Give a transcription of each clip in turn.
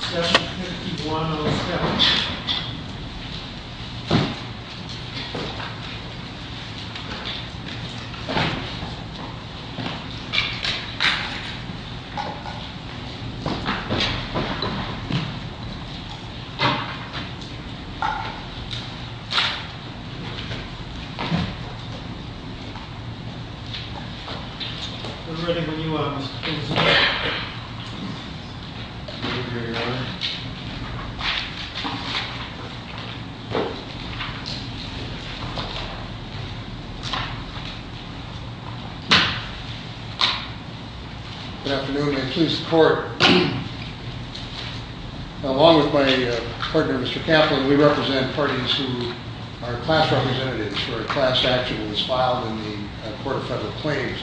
7-51-07 We're ready when you are, Mr. President. Good afternoon and please support. Along with my partner Mr. Kaplan, we represent parties who are class representatives for a class statute that was filed in the Court of Federal Claims.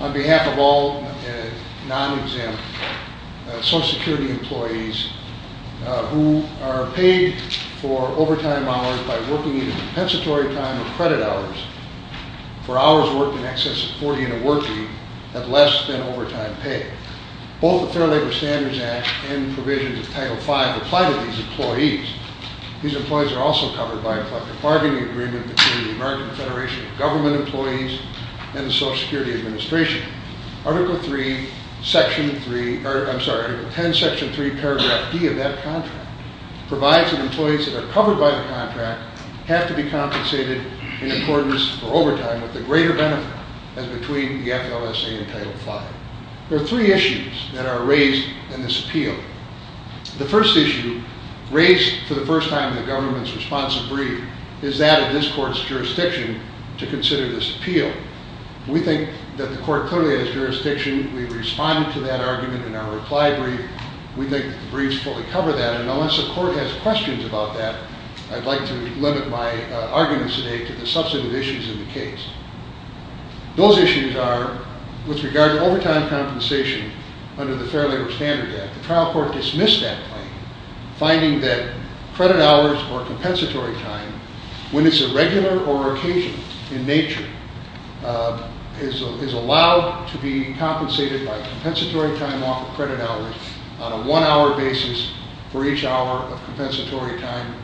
On behalf of all non-exempt Social Security employees who are paid for overtime hours by working either compensatory time or credit hours for hours worked in excess of 40 in a workweek at less than overtime pay. Both the Fair Labor Standards Act and provisions of Title V apply to these employees. These employees are also covered by a collective bargaining agreement between the American Federation of Government Employees and the Social Security Administration. Article 10, Section 3, Paragraph D of that contract provides that employees that are covered by the contract have to be compensated in accordance for overtime with the greater benefit as between the FLSA and Title V. There are three issues that are raised in this appeal. The first issue, raised for the first time in the government's responsive brief, is that of this court's jurisdiction to consider this appeal. We think that the court clearly has jurisdiction. We responded to that argument in our reply brief. We think that the briefs fully cover that and unless the court has questions about that, I'd like to limit my arguments today to the substantive issues in the case. Those issues are with regard to overtime compensation under the Fair Labor Standards Act. The trial court dismissed that claim, finding that credit hours or compensatory time, when it's a regular or occasional in nature, is allowed to be compensated by compensatory time off of credit hours on a one-hour basis for each hour of compensatory time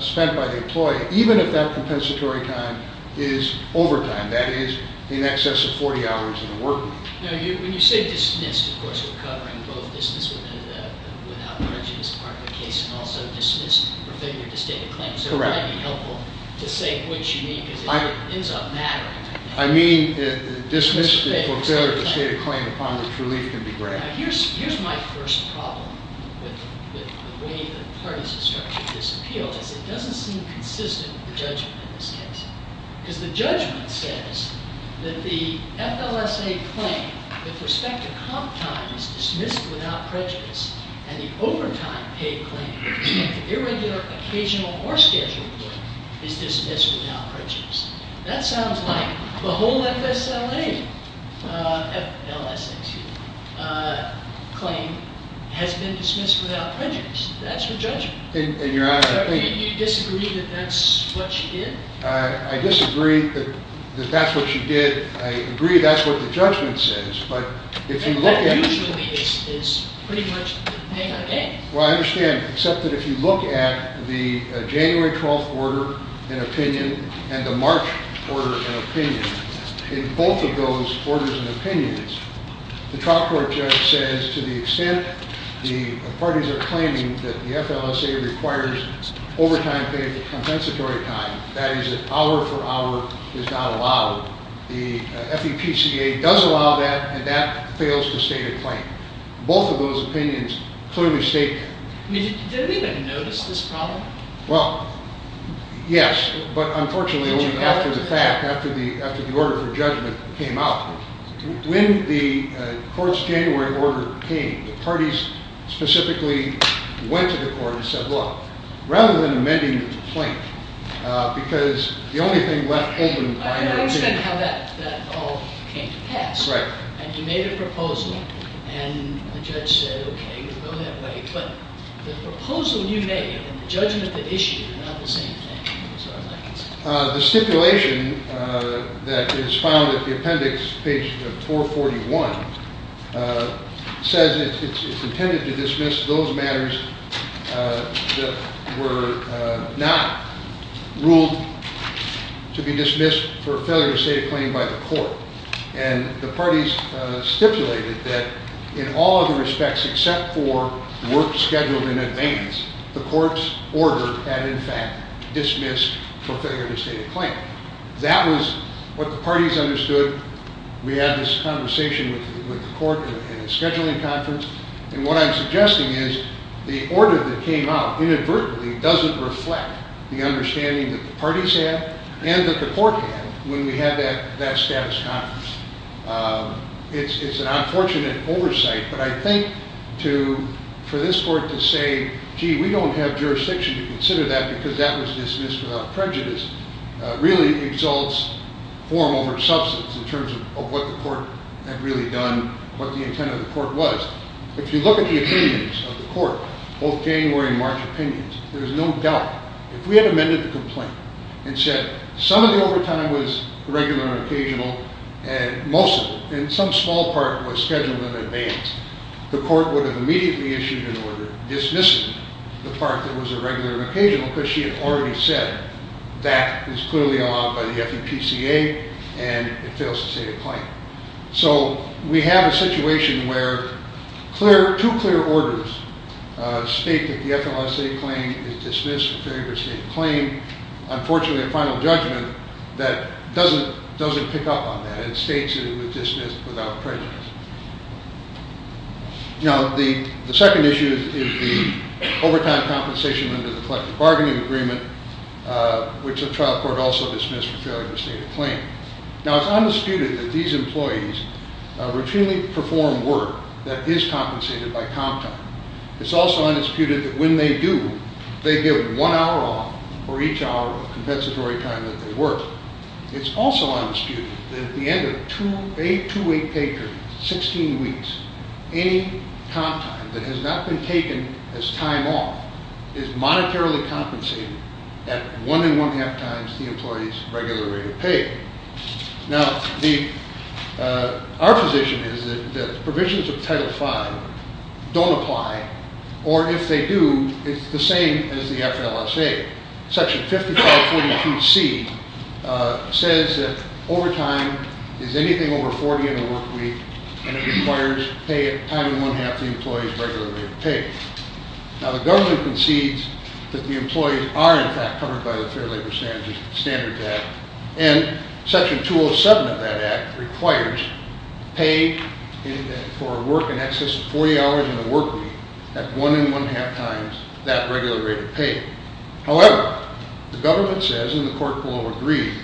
spent by the employee, even if that compensatory time is overtime, that is, in excess of 40 hours in the workweek. Now, when you say dismissed, of course, we're covering both dismissed without prejudice part of the case and also dismissed for failure to state a claim. Correct. So it might be helpful to say which you mean because it ends up mattering. I mean dismissed for failure to state a claim upon which relief can be granted. Now, here's my first problem with the way that the parties have structured this appeal is it doesn't seem consistent with the judgment in this case because the judgment says that the FLSA claim with respect to comp time is dismissed without prejudice and the overtime paid claim with respect to irregular, occasional, or scheduled work is dismissed without prejudice. That sounds like the whole FLSA claim has been dismissed without prejudice. That's her judgment. And you're out of the thing. So you disagree that that's what she did? I disagree that that's what she did. I agree that's what the judgment says, but if you look at… That usually is pretty much the thing again. Well, I understand, except that if you look at the January 12th order and opinion and the March order and opinion, in both of those orders and opinions, the trial court judge says to the extent the parties are claiming that the FLSA requires overtime paid for compensatory time, that is an hour for hour is not allowed. The FEPCA does allow that and that fails to state a claim. Both of those opinions clearly state… Did we even notice this problem? Well, yes, but unfortunately only after the fact, after the order for judgment came out. When the court's January order came, the parties specifically went to the court and said, look, rather than amending the complaint because the only thing left open… I understand how that all came to pass. Right. And you made a proposal and the judge said, okay, you can go that way, but the proposal you made and the judgment that issued are not the same thing. The stipulation that is found at the appendix, page 441, says it's intended to dismiss those matters that were not ruled to be dismissed for failure to state a claim by the court. And the parties stipulated that in all other respects except for work scheduled in advance, the court's order had in fact dismissed for failure to state a claim. That was what the parties understood. We had this conversation with the court in a scheduling conference, and what I'm suggesting is the order that came out inadvertently doesn't reflect the understanding that the parties had and that the court had when we had that status conference. It's an unfortunate oversight, but I think for this court to say, gee, we don't have jurisdiction to consider that because that was dismissed without prejudice, really exalts form over substance in terms of what the court had really done, what the intent of the court was. If you look at the opinions of the court, both January and March opinions, there's no doubt if we had amended the complaint and said some of the overtime was regular and occasional, and most of it, and some small part was scheduled in advance, the court would have immediately issued an order dismissing the part that was irregular and occasional because she had already said that is clearly allowed by the FEPCA and it fails to state a claim. So we have a situation where two clear orders state that the FMLSA claim is dismissed for failure to state a claim. Unfortunately, a final judgment that doesn't pick up on that. It states that it was dismissed without prejudice. Now, the second issue is the overtime compensation under the collective bargaining agreement, which the trial court also dismissed for failure to state a claim. Now, it's undisputed that these employees routinely perform work that is compensated by comp time. It's also undisputed that when they do, they give one hour off for each hour of compensatory time that they work. It's also undisputed that at the end of a two-week pay period, 16 weeks, any comp time that has not been taken as time off is monetarily compensated at one and one-half times the employee's regular rate of pay. Now, our position is that the provisions of Title V don't apply. Or if they do, it's the same as the FMLSA. Section 5542C says that overtime is anything over 40 in a work week and it requires pay at time and one-half the employee's regular rate of pay. Now, the government concedes that the employees are, in fact, covered by the Fair Labor Standards Act and Section 207 of that act requires pay for work in excess of 40 hours in a work week at one and one-half times that regular rate of pay. However, the government says, and the court will agree,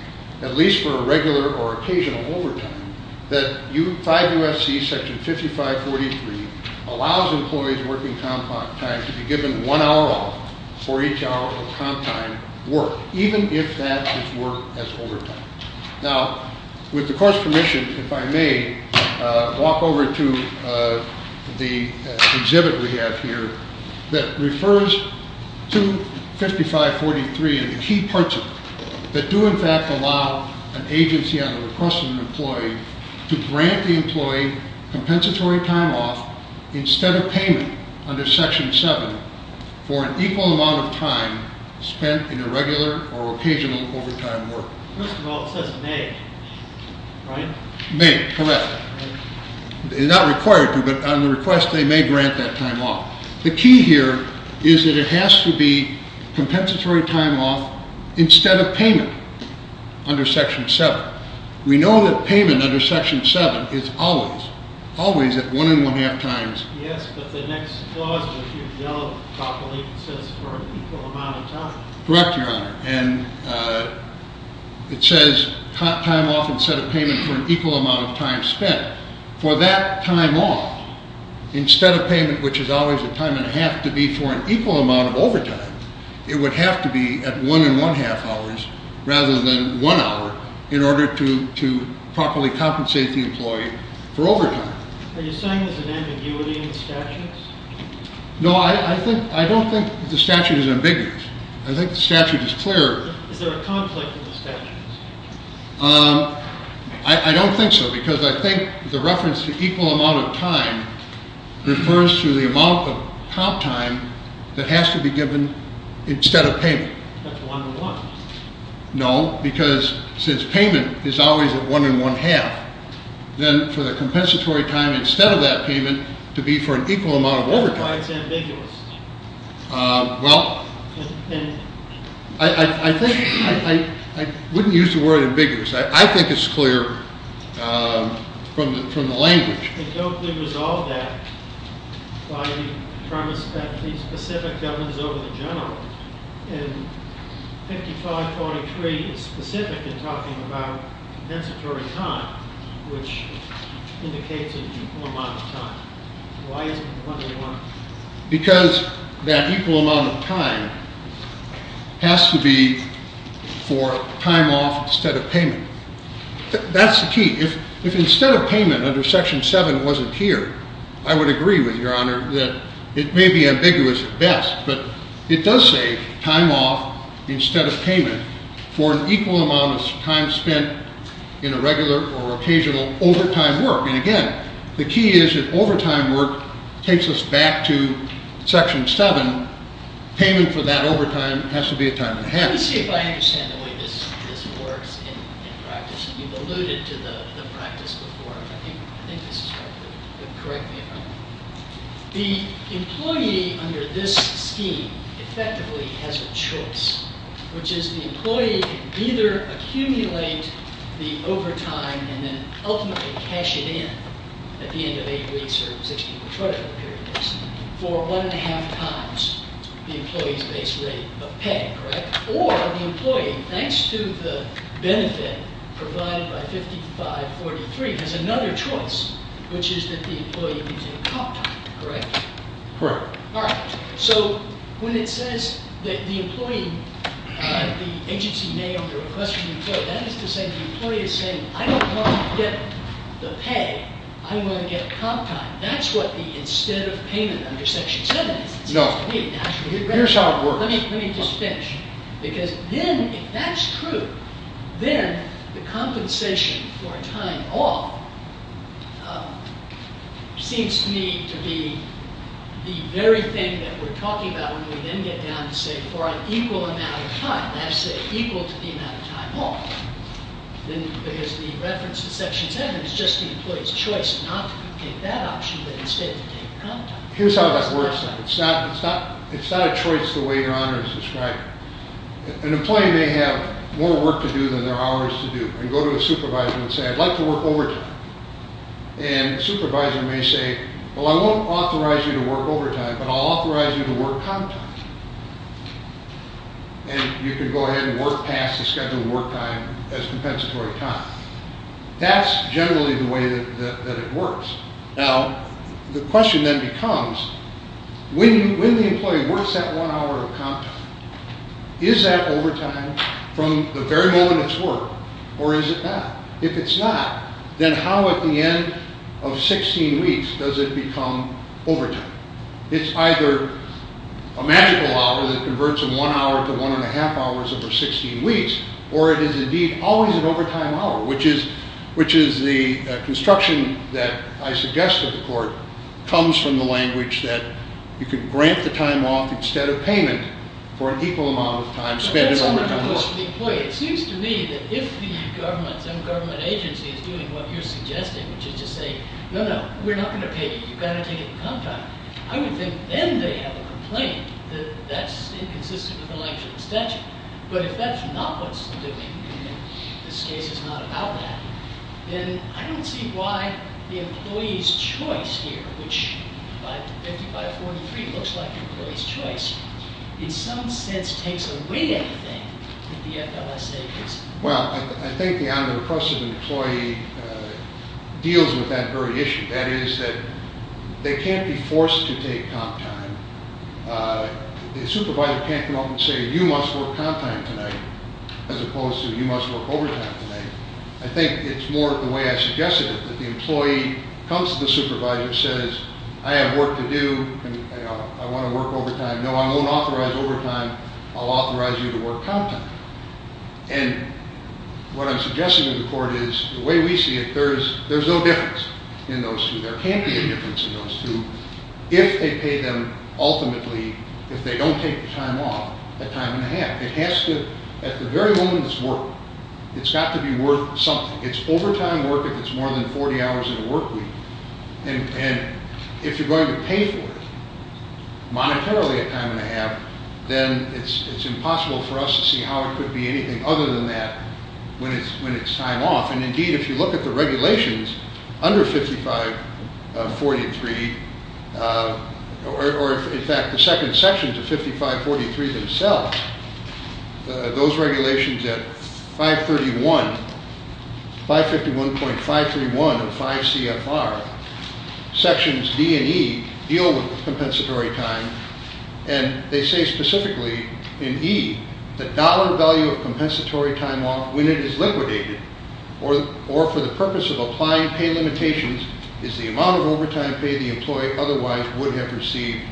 at least for a regular or occasional overtime, that 5 U.S.C. Section 5543 allows employees working comp time to be given one hour off for each hour of comp time work, even if that is work as overtime. Now, with the court's permission, if I may walk over to the exhibit we have here that refers to 5543 and the key parts of it that do, in fact, allow an agency on the request of an employee to grant the employee compensatory time off instead of payment under Section 7 for an equal amount of time spent in a regular or occasional overtime work. First of all, it says may, right? May, correct. Not required to, but on the request they may grant that time off. The key here is that it has to be compensatory time off instead of payment under Section 7. We know that payment under Section 7 is always, always at one and one-half times. Yes, but the next clause, which you've dealt with properly, says for an equal amount of time. Correct, Your Honor, and it says time off instead of payment for an equal amount of time spent. For that time off, instead of payment, which is always a time and a half to be for an equal amount of overtime, it would have to be at one and one-half hours rather than one hour in order to properly compensate the employee for overtime. Are you saying there's an ambiguity in the statutes? No, I don't think the statute is ambiguous. I think the statute is clear. Is there a conflict in the statutes? I don't think so, because I think the reference to equal amount of time refers to the amount of comp time that has to be given instead of payment. That's one and one. No, because since payment is always at one and one-half, then for the compensatory time instead of that payment to be for an equal amount of overtime. That's why it's ambiguous. Well, I think, I wouldn't use the word ambiguous. I think it's clear from the language. But don't they resolve that by the premise that the specific governs over the general and 5543 is specific in talking about compensatory time, which indicates an equal amount of time. Why isn't it one and one? Because that equal amount of time has to be for time off instead of payment. That's the key. If instead of payment under Section 7 wasn't here, I would agree with Your Honor that it may be ambiguous at best, but it does say time off instead of payment for an equal amount of time spent in a regular or occasional overtime work. And again, the key is if overtime work takes us back to Section 7, payment for that overtime has to be a time and a half. Let me see if I understand the way this works in practice. You've alluded to the practice before. I think this is right. Correct me if I'm wrong. The employee under this scheme effectively has a choice, which is the employee can either accumulate the overtime and then ultimately cash it in at the end of eight weeks or six weeks, whatever the period is, for one and a half times the employee's base rate of pay, correct? Or the employee, thanks to the benefit provided by 5543, has another choice, which is that the employee gives you a comp time, correct? Correct. All right. So when it says that the employee, the agency may or may request from the employee, that is to say the employee is saying, I don't want to get the pay. I want to get a comp time. That's what the instead of payment under Section 7 is. No. Here's how it works. Let me just finish. Because then, if that's true, then the compensation for time off seems to me to be the very thing that we're talking about when we then get down to say for an equal amount of time, that is equal to the amount of time off. Because the reference to Section 7 is just the employee's choice not to take that option, but instead to take the comp time. Here's how that works. It's not a choice the way your honor has described it. An employee may have more work to do than there are hours to do and go to a supervisor and say, I'd like to work overtime. And the supervisor may say, well, I won't authorize you to work overtime, but I'll authorize you to work comp time. And you can go ahead and work past the scheduled work time as compensatory time. That's generally the way that it works. Now, the question then becomes, when the employee works that one hour of comp time, is that overtime from the very moment it's worked or is it not? If it's not, then how at the end of 16 weeks does it become overtime? It's either a magical hour that converts from one hour to one and a half hours over 16 weeks, or it is indeed always an overtime hour, which is the construction that I suggest to the court comes from the language that you can grant the time off instead of payment for an equal amount of time spent in overtime work. It seems to me that if the government, some government agency is doing what you're suggesting, which is to say, no, no, we're not going to pay you. You've got to take it in comp time. I would think then they have a complaint that that's inconsistent with the language of the statute. But if that's not what's, this case is not about that, then I don't see why the employee's choice here, which by 5543 looks like the employee's choice, in some sense takes away everything that the FLSA is. Well, I think the omnipressive employee deals with that very issue. That is that they can't be forced to take comp time. The supervisor can't come up and say, you must work comp time tonight, as opposed to you must work overtime tonight. I think it's more the way I suggested it, that the employee comes to the supervisor and says, I have work to do and I want to work overtime. No, I won't authorize overtime. I'll authorize you to work comp time. And what I'm suggesting to the court is the way we see it, there's no difference in those two. There can't be a difference in those two if they pay them ultimately, if they don't take the time off, a time and a half. It has to, at the very moment it's work, it's got to be worth something. It's overtime work if it's more than 40 hours in a work week. And if you're going to pay for it monetarily a time and a half, then it's impossible for us to see how it could be anything other than that when it's time off. And indeed, if you look at the regulations under 5543, or in fact, the second sections of 5543 themselves, those regulations at 531, 551.531 of 5 CFR, sections D and E deal with compensatory time and they say specifically in E, the dollar value of compensatory time off when it is liquidated, or for the purpose of applying pay limitations, is the amount of overtime pay the employee otherwise would have received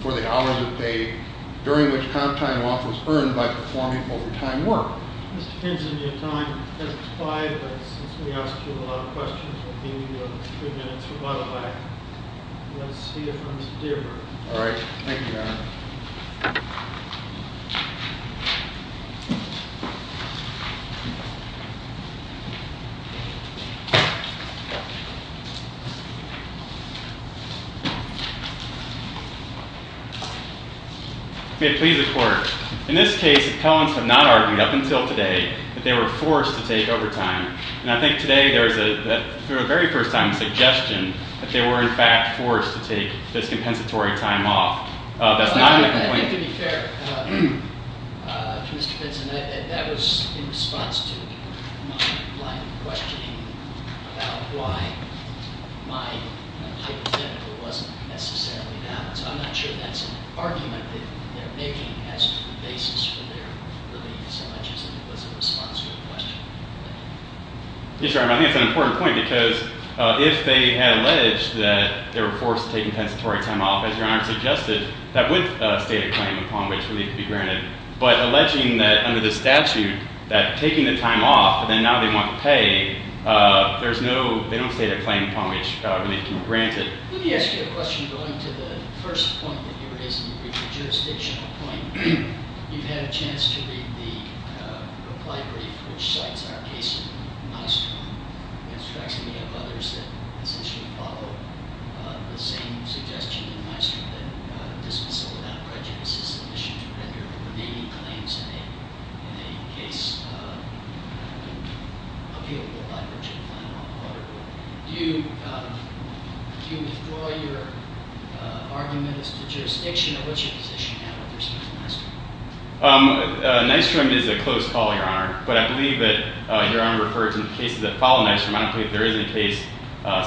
for the hours of pay during which comp time off was earned by performing overtime work. This depends on your time as applied, but since we asked you a lot of questions, we'll give you three minutes. We'll let it back. Let's see if Mr. Deardorff. All right. Thank you, Your Honor. May it please the court. In this case, appellants have not argued up until today that they were forced to take overtime. And I think today there is a, for the very first time, a suggestion that they were in fact forced to take this compensatory time off. That's not a complaint. I think to be fair to Mr. Benson, that was in response to my line of questioning about why my payment to them wasn't necessarily balanced. I'm not sure that's an argument that they're making as to the basis for their relief, so much as it was a response to a question. Yes, Your Honor. I think it's an important point because if they had alleged that they were forced to take compensatory time off, as Your Honor suggested, that would state a claim upon which relief could be granted. But alleging that under the statute that taking the time off, and then now they want to pay, there's no, they don't state a claim upon which relief can be granted. Let me ask you a question going to the first point that you raised in your brief, the jurisdictional point. You've had a chance to read the reply brief which cites our case in Maestrom. It strikes me of others that essentially follow the same suggestion in Maestrom that dismissal without prejudice is an issue to render remaining claims in a case appealable by virtue of final order. Do you withdraw your argument as to jurisdiction, or what's your position now with respect to Maestrom? Maestrom is a close call, Your Honor. But I believe that Your Honor referred to the cases that follow Maestrom. I don't believe there is any case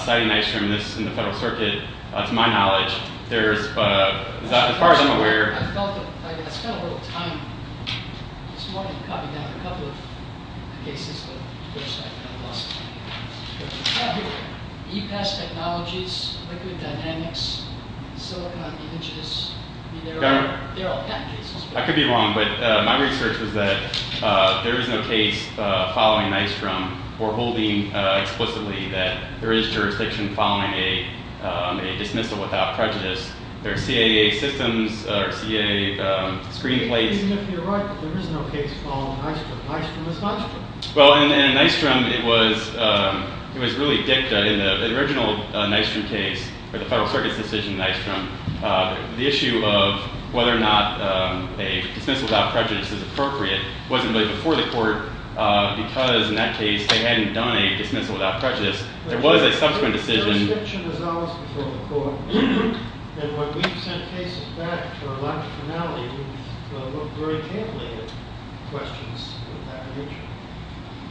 citing Maestrom in the Federal Circuit. To my knowledge, there's, as far as I'm aware, I spent a little time this morning copying down a couple of cases, but of course I lost track of them. E-Pass Technologies, Liquid Dynamics, Silicon Images, I mean, they're all patent cases. I could be wrong, but my research is that there is no case following Maestrom or holding explicitly that there is jurisdiction following a dismissal without prejudice. There are CAA systems or CAA screenplates. Even if you're right, there is no case following Maestrom. Maestrom is Maestrom. Well, in Maestrom, it was really dicta. In the original Maestrom case, or the Federal Circuit's decision in Maestrom, the issue of whether or not a dismissal without prejudice is appropriate wasn't really before the court because, in that case, they hadn't done a dismissal without prejudice. There was a subsequent decision. But jurisdiction resolves before the court. And when we've sent cases back to our logic finale, we've looked very carefully at questions of that nature.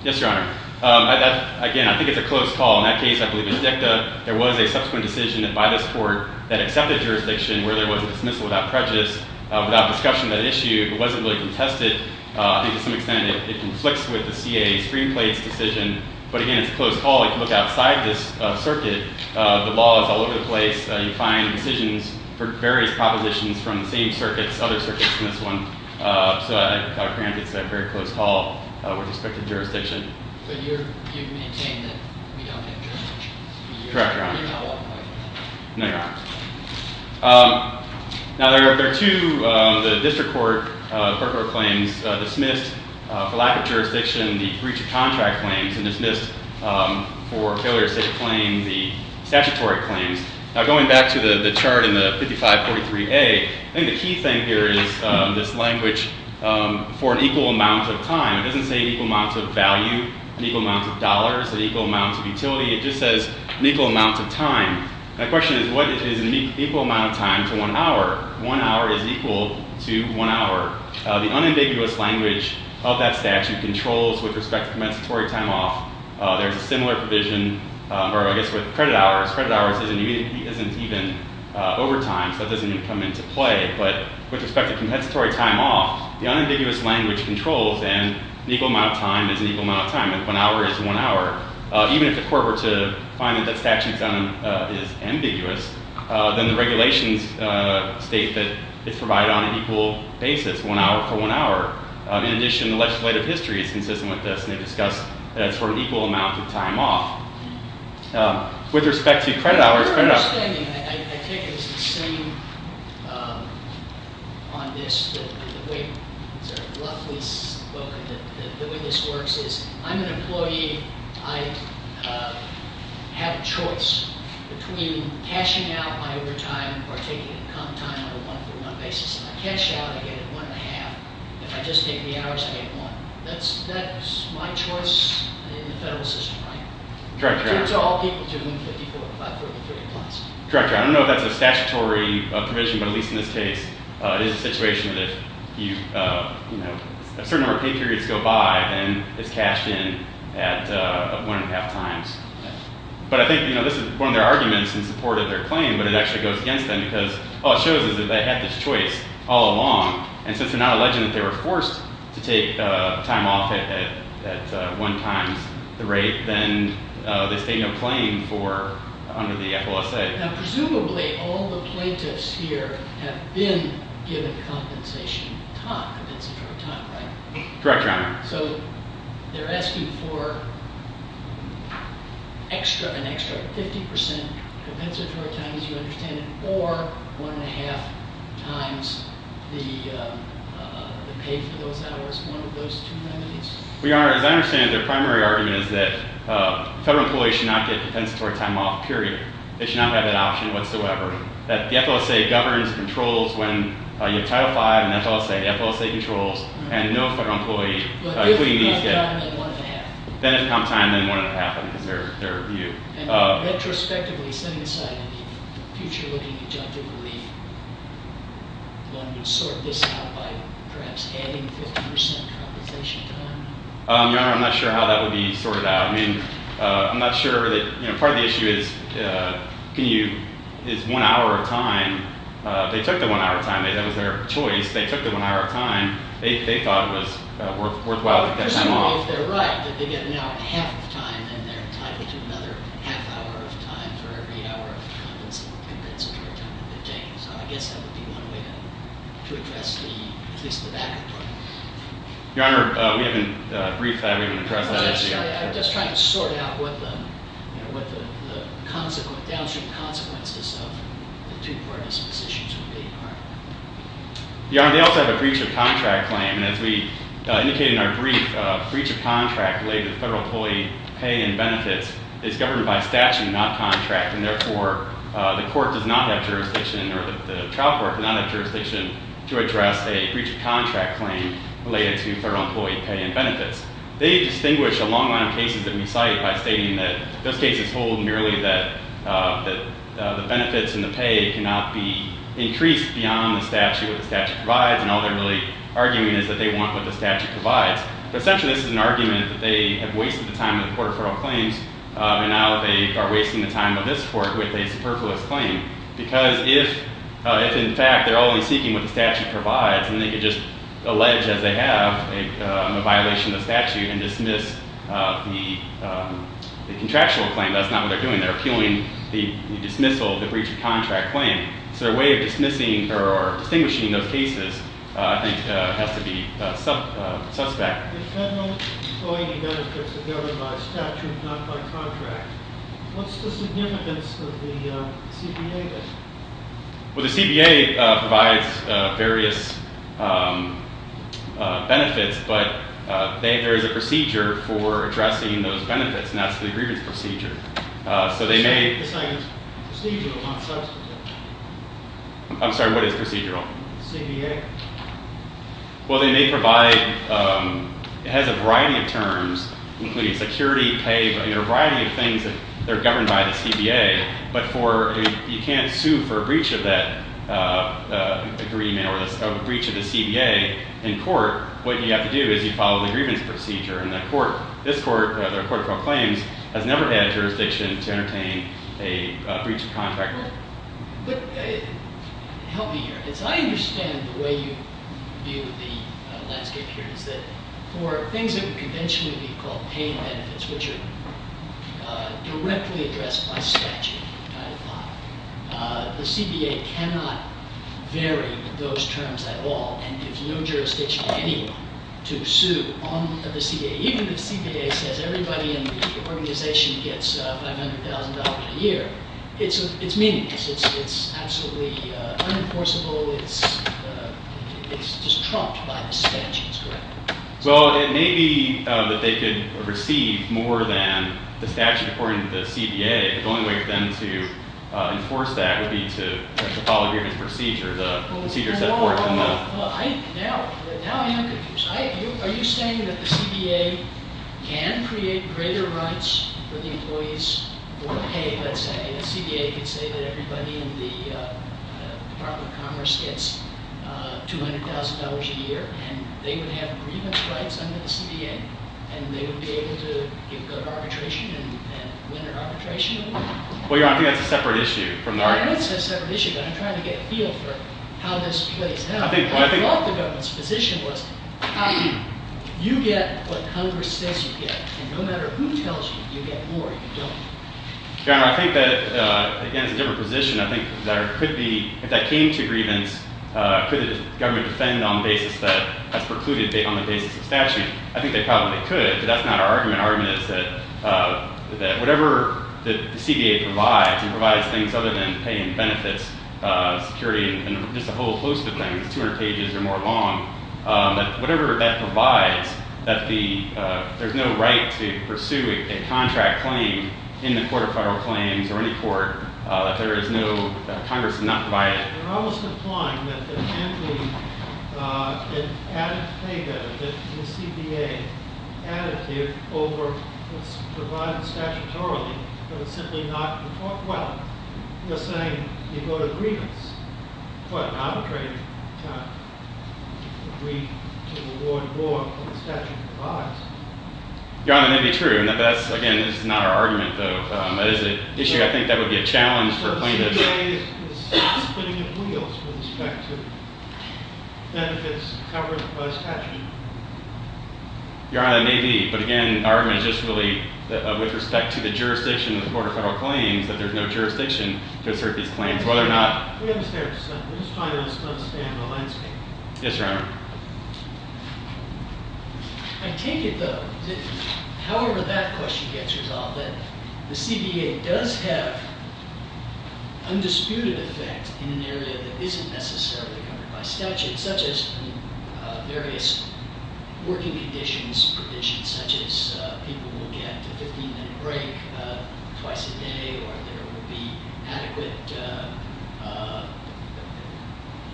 Yes, Your Honor. Again, I think it's a close call. In that case, I believe it's dicta. There was a subsequent decision by this court that accepted jurisdiction where there was a dismissal without prejudice. Without discussion of that issue, it wasn't really contested. I think, to some extent, it conflicts with the CAA screenplates decision. But, again, it's a close call. If you look outside this circuit, the law is all over the place. You find decisions for various propositions from the same circuits, other circuits than this one. So I think it's a very close call with respect to jurisdiction. But you maintain that we don't have jurisdiction. Correct, Your Honor. You're not walking away from that. No, Your Honor. Now, there are two district court claims dismissed. For lack of jurisdiction, the breach of contract claims and dismissed for failure to state a claim, the statutory claims. Now, going back to the chart in the 5543A, I think the key thing here is this language for an equal amount of time. It doesn't say an equal amount of value, an equal amount of dollars, an equal amount of utility. It just says an equal amount of time. My question is what is an equal amount of time to one hour? One hour is equal to one hour. The unambiguous language of that statute controls with respect to compensatory time off. There's a similar provision, or I guess with credit hours. Credit hours isn't even overtime, so that doesn't even come into play. But with respect to compensatory time off, the unambiguous language controls and an equal amount of time is an equal amount of time. One hour is one hour. Even if the court were to find that that statute is ambiguous, then the regulations state that it's provided on an equal basis, one hour for one hour. In addition, the legislative history is consistent with this, and they discuss that sort of equal amount of time off. With respect to credit hours- My understanding, I take it, is the same on this. The way this works is I'm an employee. I have a choice between cashing out my overtime or taking a comp time on a one-for-one basis. If I cash out, I get one and a half. If I just take the hours, I get one. That's my choice in the federal system, right? In terms of all people, it's equal to 543 plus. Director, I don't know if that's a statutory provision, but at least in this case, it is a situation that if a certain number of pay periods go by, then it's cashed in at one and a half times. But I think this is one of their arguments in support of their claim, but it actually goes against them because all it shows is that they had this choice all along, and since they're not alleging that they were forced to take time off at one times the rate, then they state no claim under the FOSA. Presumably, all the plaintiffs here have been given compensation time, compensatory time, right? Correct, Your Honor. So they're asking for an extra 50% compensatory time, as you understand it, or one and a half times the pay for those hours, one of those two remedies? Your Honor, as I understand it, their primary argument is that federal employees should not get compensatory time off, period. They should not have that option whatsoever. The FOSA governs, controls when you have Title V and FOSA. The FOSA controls, and no federal employee including these get- But if comp time, then one and a half. Then if comp time, then one and a half, I think is their view. Retrospectively, setting aside any future-looking objective relief, one would sort this out by perhaps adding 50% compensation time? Your Honor, I'm not sure how that would be sorted out. I mean, I'm not sure that- Part of the issue is one hour of time. They took the one hour of time. That was their choice. They took the one hour of time. They thought it was worthwhile to get time off. Presumably, if they're right, that they get now half the time, and then they're entitled to another half hour of time for every hour of compensatory time that they take. So I guess that would be one way to address at least the backup part. Your Honor, we haven't briefed that. We haven't addressed that issue. I'm just trying to sort out what the downstream consequences of the two partisan positions would be. Your Honor, they also have a breach of contract claim. As we indicated in our brief, a breach of contract related to federal employee pay and benefits is governed by statute, not contract. And therefore, the court does not have jurisdiction, or the trial court does not have jurisdiction, to address a breach of contract claim related to federal employee pay and benefits. They distinguish a long line of cases that we cite by stating that those cases hold merely that the benefits and the pay cannot be increased beyond the statute. And all they're really arguing is that they want what the statute provides. But essentially, this is an argument that they have wasted the time of the Court of Federal Claims, and now they are wasting the time of this Court with a superfluous claim. Because if, in fact, they're only seeking what the statute provides, then they could just allege, as they have, a violation of the statute and dismiss the contractual claim. That's not what they're doing. They're appealing the dismissal of the breach of contract claim. So their way of dismissing or distinguishing those cases, I think, has to be suspect. The federal employee benefits are governed by statute, not by contract. What's the significance of the CBA then? Well, the CBA provides various benefits, but there is a procedure for addressing those benefits, and that's the grievance procedure. This is procedural, not substantive. I'm sorry, what is procedural? The CBA. Well, they may provide – it has a variety of terms, including security, pay, a variety of things that are governed by the CBA. But you can't sue for a breach of that agreement or a breach of the CBA in court. What you have to do is you follow the grievance procedure. And the court – this court, the Court of Proclaims, has never had jurisdiction to entertain a breach of contract. Well, help me here. As I understand the way you view the landscape here is that for things that would conventionally be called pay benefits, which are directly addressed by statute, the CBA cannot vary those terms at all. And there's no jurisdiction for anyone to sue on the CBA. Even if the CBA says everybody in the organization gets $500,000 a year, it's meaningless. It's absolutely unenforceable. It's just trumped by the statutes, correct? Well, it may be that they could receive more than the statute according to the CBA. The only way for them to enforce that would be to follow the grievance procedure, the procedure set forth in the- Well, now I am confused. Are you saying that the CBA can create greater rights for the employees for pay, let's say? The CBA could say that everybody in the Department of Commerce gets $200,000 a year, and they would have grievance rights under the CBA, and they would be able to get good arbitration and win their arbitration award? Well, Your Honor, I think that's a separate issue from the argument. Well, I think it's a separate issue, but I'm trying to get a feel for how this plays out. I thought the government's position was you get what Congress says you get, and no matter who tells you you get more, you don't. Your Honor, I think that, again, it's a different position. I think there could be, if that came to grievance, could the government defend on the basis that has precluded on the basis of statute? I think they probably could, but that's not our argument. Our argument is that whatever the CBA provides, it provides things other than paying benefits, security, and just a whole host of things, 200 pages or more long, that whatever that provides, that there's no right to pursue a contract claim in the Court of Federal Claims or any court, that there is no Congress to not provide it. And you're almost implying that there can't be an added pay benefit, the CBA additive over what's provided statutorily, but it's simply not in the Court. Well, you're saying you go to grievance. Well, I'm trying to agree to reward more than the statute provides. Your Honor, that may be true, and that's, again, this is not our argument, though. That is an issue I think that would be a challenge for plaintiffs. The CBA is putting it in wheels with respect to benefits covered by statute. Your Honor, that may be, but, again, our argument is just really with respect to the jurisdiction of the Court of Federal Claims that there's no jurisdiction to assert these claims, whether or not— We understand. We're just trying to understand the landscape. Yes, Your Honor. I take it, though, however that question gets resolved, that the CBA does have undisputed effect in an area that isn't necessarily covered by statute, such as in various working conditions provisions, such as people will get a 15-minute break twice a day or there will be adequate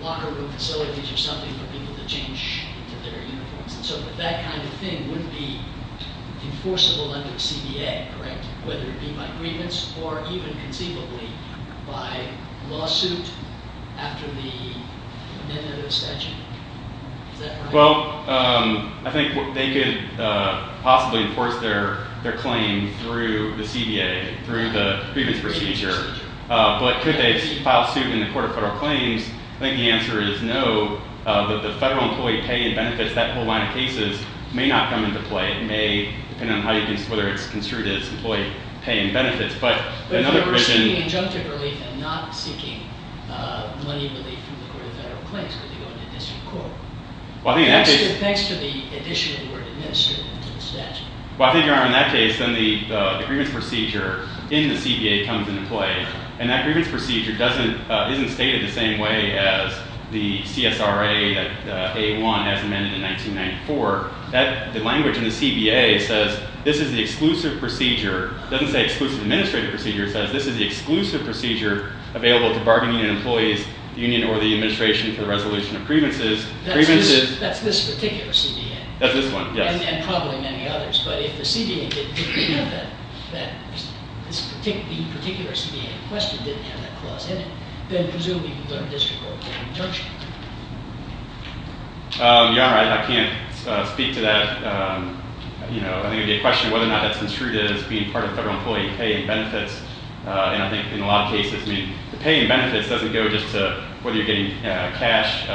locker room facilities or something for people to change into their uniforms. So that kind of thing would be enforceable under the CBA, correct, whether it be by grievance or even conceivably by lawsuit after the amendment of the statute. Is that correct? Well, I think they could possibly enforce their claim through the CBA, through the grievance procedure. But could they file suit in the Court of Federal Claims? I think the answer is no. But the federal employee pay and benefits, that whole line of cases, may not come into play. It may, depending on whether it's construed as employee pay and benefits. But if you're seeking injunctive relief and not seeking money relief from the Court of Federal Claims, could they go into the district court? Thanks to the addition of the word administered into the statute. Well, I think, Your Honor, in that case, then the grievance procedure in the CBA comes into play. And that grievance procedure isn't stated the same way as the CSRA A-1 as amended in 1994. The language in the CBA says this is the exclusive procedure. It doesn't say exclusive administrative procedure. It says this is the exclusive procedure available to bargaining and employees, the union or the administration, for the resolution of grievances. That's this particular CBA. That's this one, yes. And probably many others. But if the CBA didn't have that, the particular CBA in question didn't have that clause in it, then presumably the district court can't intercede. Your Honor, I can't speak to that. I think it would be a question of whether or not that's construed as being part of federal employee pay and benefits. And I think in a lot of cases, I mean, the pay and benefits doesn't go just to whether you're getting cash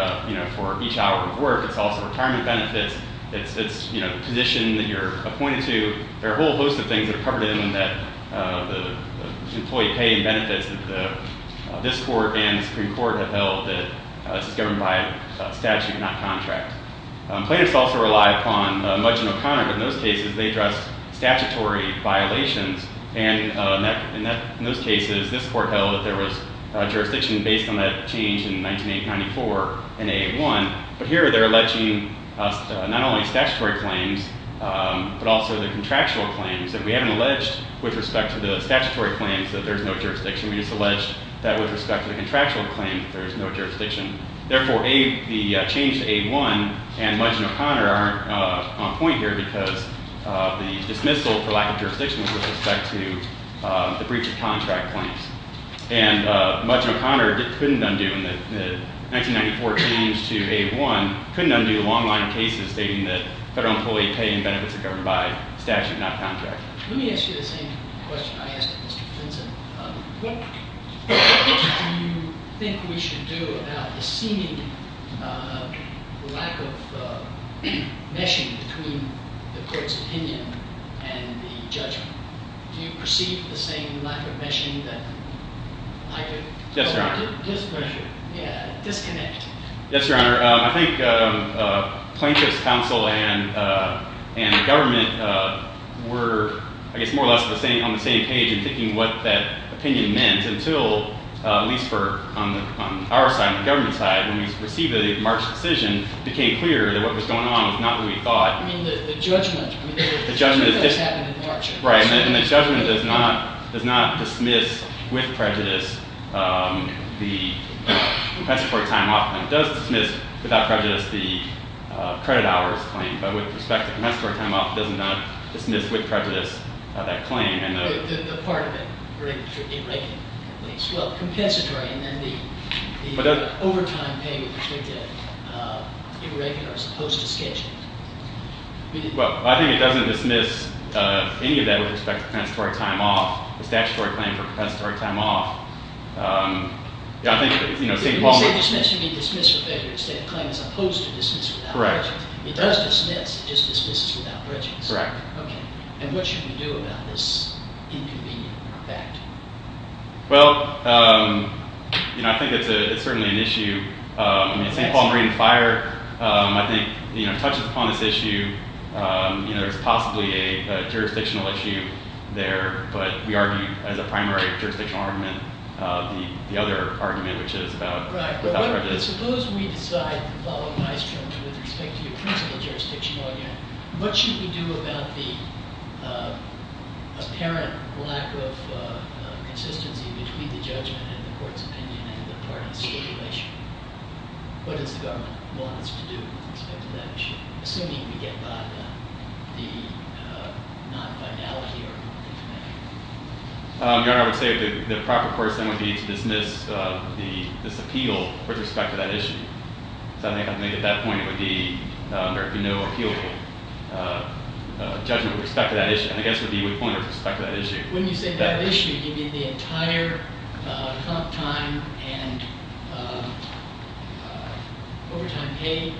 for each hour of work. It's also retirement benefits. It's the position that you're appointed to. There are a whole host of things that are covered in the employee pay and benefits that this court and the Supreme Court have held that this is governed by statute, not contract. Plaintiffs also rely upon Mudge and O'Connor. But in those cases, they address statutory violations. And in those cases, this court held that there was jurisdiction based on that change in 1994 in AA1. But here they're alleging not only statutory claims but also the contractual claims. And we haven't alleged with respect to the statutory claims that there's no jurisdiction. We just alleged that with respect to the contractual claim that there's no jurisdiction. Therefore, the change to AA1 and Mudge and O'Connor aren't on point here because the dismissal for lack of jurisdiction was with respect to the breach of contract claims. And Mudge and O'Connor couldn't undo in the 1994 change to AA1, couldn't undo the long line of cases stating that federal employee pay and benefits are governed by statute, not contract. Let me ask you the same question I asked Mr. Vincent. What do you think we should do about the seeming lack of meshing between the court's opinion and the judgment? Do you perceive the same lack of meshing that I do? Yes, Your Honor. Yeah, disconnect. Yes, Your Honor. Your Honor, I think plaintiff's counsel and the government were, I guess, more or less on the same page in thinking what that opinion meant until, at least on our side, the government side, when we received the March decision, it became clear that what was going on was not what we thought. I mean, the judgment. The judgment is different. That's what happened in March. Right. And the judgment does not dismiss, with prejudice, the compensatory time off. It does dismiss, without prejudice, the credit hours claim. But with respect to compensatory time off, it does not dismiss, with prejudice, that claim. The part of it. Irregular, at least. Well, compensatory, and then the overtime pay with respect to irregular, as opposed to scheduled. Well, I think it doesn't dismiss any of that with respect to compensatory time off. The statutory claim for compensatory time off, I think St. Paul. When you say dismiss, you mean dismiss with prejudice. That claim is opposed to dismiss without prejudice. Correct. It does dismiss. It just dismisses without prejudice. Correct. Okay. Well, I think it's certainly an issue. I mean, St. Paul Marine and Fire, I think, you know, touches upon this issue. You know, there's possibly a jurisdictional issue there. But we argue, as a primary jurisdictional argument, the other argument, which is about without prejudice. Right. But suppose we decide to follow Nystrom with respect to your principal jurisdictional argument. What should we do about the apparent lack of consistency between the judgment and the court's opinion and the parties' stipulation? What does the government want us to do with respect to that issue? Assuming we get by the non-vitality argument. Your Honor, I would say the proper course then would be to dismiss this appeal with respect to that issue. Because I think at that point it would be under no appealable judgment with respect to that issue. And I guess it would be a good point with respect to that issue. When you say that issue, you mean the entire comp time and overtime pay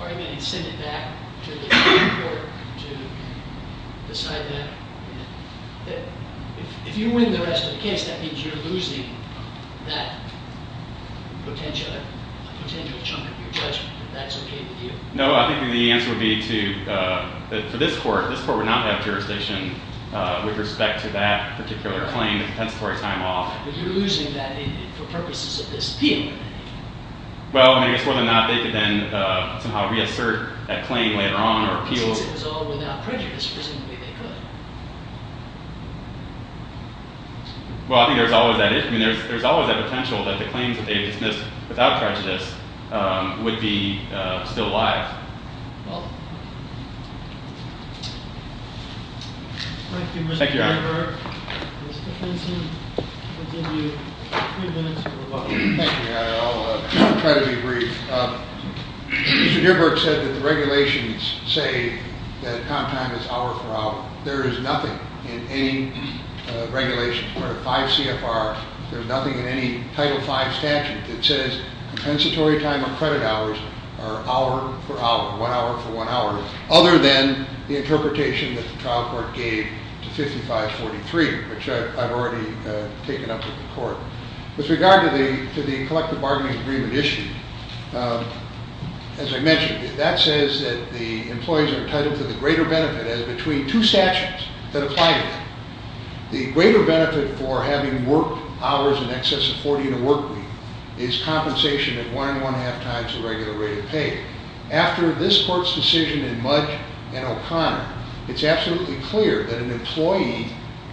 argument and send it back to the Supreme Court to decide that? If you win the rest of the case, that means you're losing that potential chunk of your judgment. If that's okay with you? No, I think the answer would be that for this court, this court would not have jurisdiction with respect to that particular claim, the compensatory time off. But you're losing that for purposes of this appeal. Well, I guess more than that, they could then somehow reassert that claim later on or appeal. But since it was all without prejudice, presumably they could. Well, I think there's always that issue. I mean, there's always that potential that the claims that they've dismissed without prejudice would be still alive. Well, thank you, Mr. Nierberg. Thank you, Your Honor. Mr. Benson, I'll give you three minutes for rebuttal. Thank you, Your Honor. I'll try to be brief. Mr. Nierberg said that the regulations say that comp time is hour for hour. There is nothing in any regulation, part of 5 CFR, there's nothing in any Title V statute that says compensatory time or credit hours are hour for hour, one hour for one hour, other than the interpretation that the trial court gave to 5543, which I've already taken up with the court. With regard to the collective bargaining agreement issue, as I mentioned, that says that the employees are entitled to the greater benefit as between two statutes that apply to them. The greater benefit for having worked hours in excess of 40 in a work week is compensation of one and one-half times the regular rate of pay. After this court's decision in Mudge and O'Connor, it's absolutely clear that an employee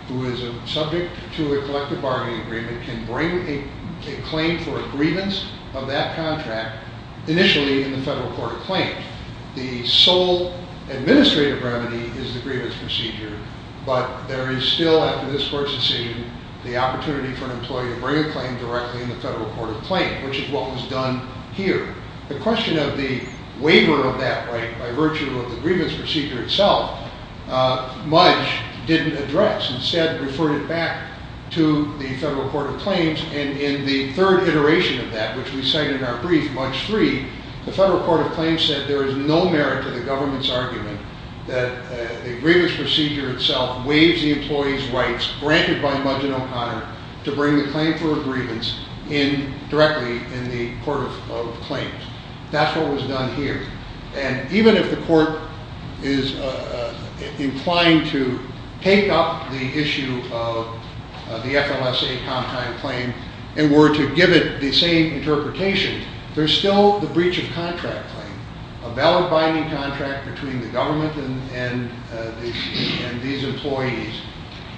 who is subject to a collective bargaining agreement can bring a claim for a grievance of that contract initially in the Federal Court of Claims. The sole administrative remedy is the grievance procedure, but there is still, after this court's decision, the opportunity for an employee to bring a claim directly in the Federal Court of Claims, which is what was done here. The question of the waiver of that right by virtue of the grievance procedure itself, Mudge didn't address. Instead, referred it back to the Federal Court of Claims, and in the third iteration of that, which we cite in our brief, Mudge III, the Federal Court of Claims said there is no merit to the government's argument that the grievance procedure itself waives the employee's rights granted by Mudge and O'Connor to bring the claim for a grievance in directly in the Court of Claims. That's what was done here, and even if the court is inclined to take up the issue of the FLSA Comptine Claim and were to give it the same interpretation, there's still the breach of contract claim, a valid binding contract between the government and these employees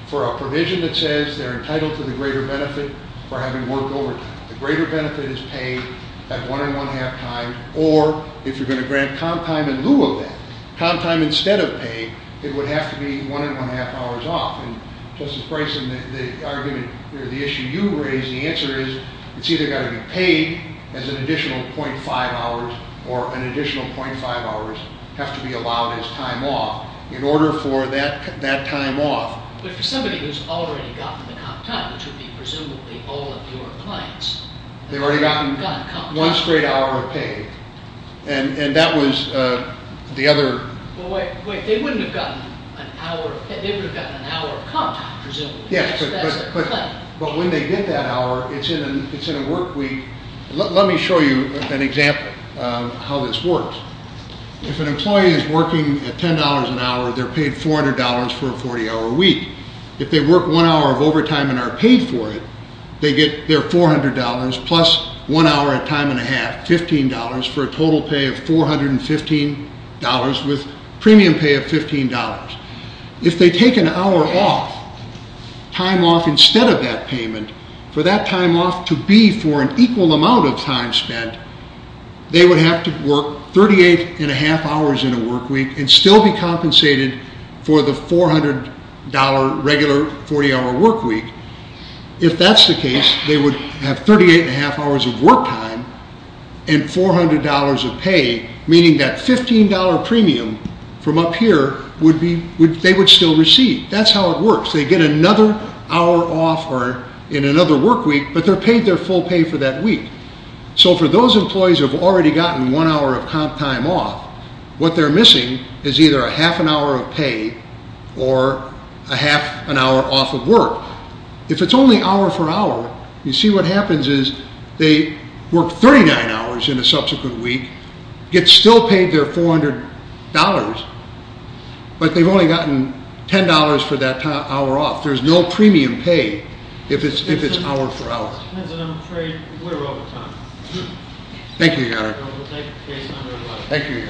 for a provision that says they're entitled to the greater benefit for having worked overtime. The greater benefit is paid at one and one-half times, or if you're going to grant comp time in lieu of that, comp time instead of pay, it would have to be one and one-half hours off. Justice Bryson, the argument or the issue you raised, the answer is it's either got to be paid as an additional .5 hours or an additional .5 hours have to be allowed as time off. In order for that time off- But for somebody who's already gotten the comp time, which would be presumably all of your clients- They've already gotten one straight hour of pay, and that was the other- Wait, they wouldn't have gotten an hour of pay. They would have gotten an hour of comp time, presumably. Yes, but when they get that hour, it's in a work week. Let me show you an example of how this works. If an employee is working at $10 an hour, they're paid $400 for a 40-hour week. If they work one hour of overtime and are paid for it, they get their $400 plus one hour at time and a half, $15, for a total pay of $415 with premium pay of $15. If they take an hour off, time off instead of that payment, for that time off to be for an equal amount of time spent, they would have to work 38 and a half hours in a work week and still be compensated for the $400 regular 40-hour work week. If that's the case, they would have 38 and a half hours of work time and $400 of pay, meaning that $15 premium from up here they would still receive. That's how it works. They get another hour off in another work week, but they're paid their full pay for that week. For those employees who have already gotten one hour of comp time off, what they're missing is either a half an hour of pay or a half an hour off of work. If it's only hour for hour, you see what happens is they work 39 hours in a subsequent week, get still paid their $400, but they've only gotten $10 for that hour off. There's no premium pay if it's hour for hour. Thank you, Your Honor. Thank you, Your Honor.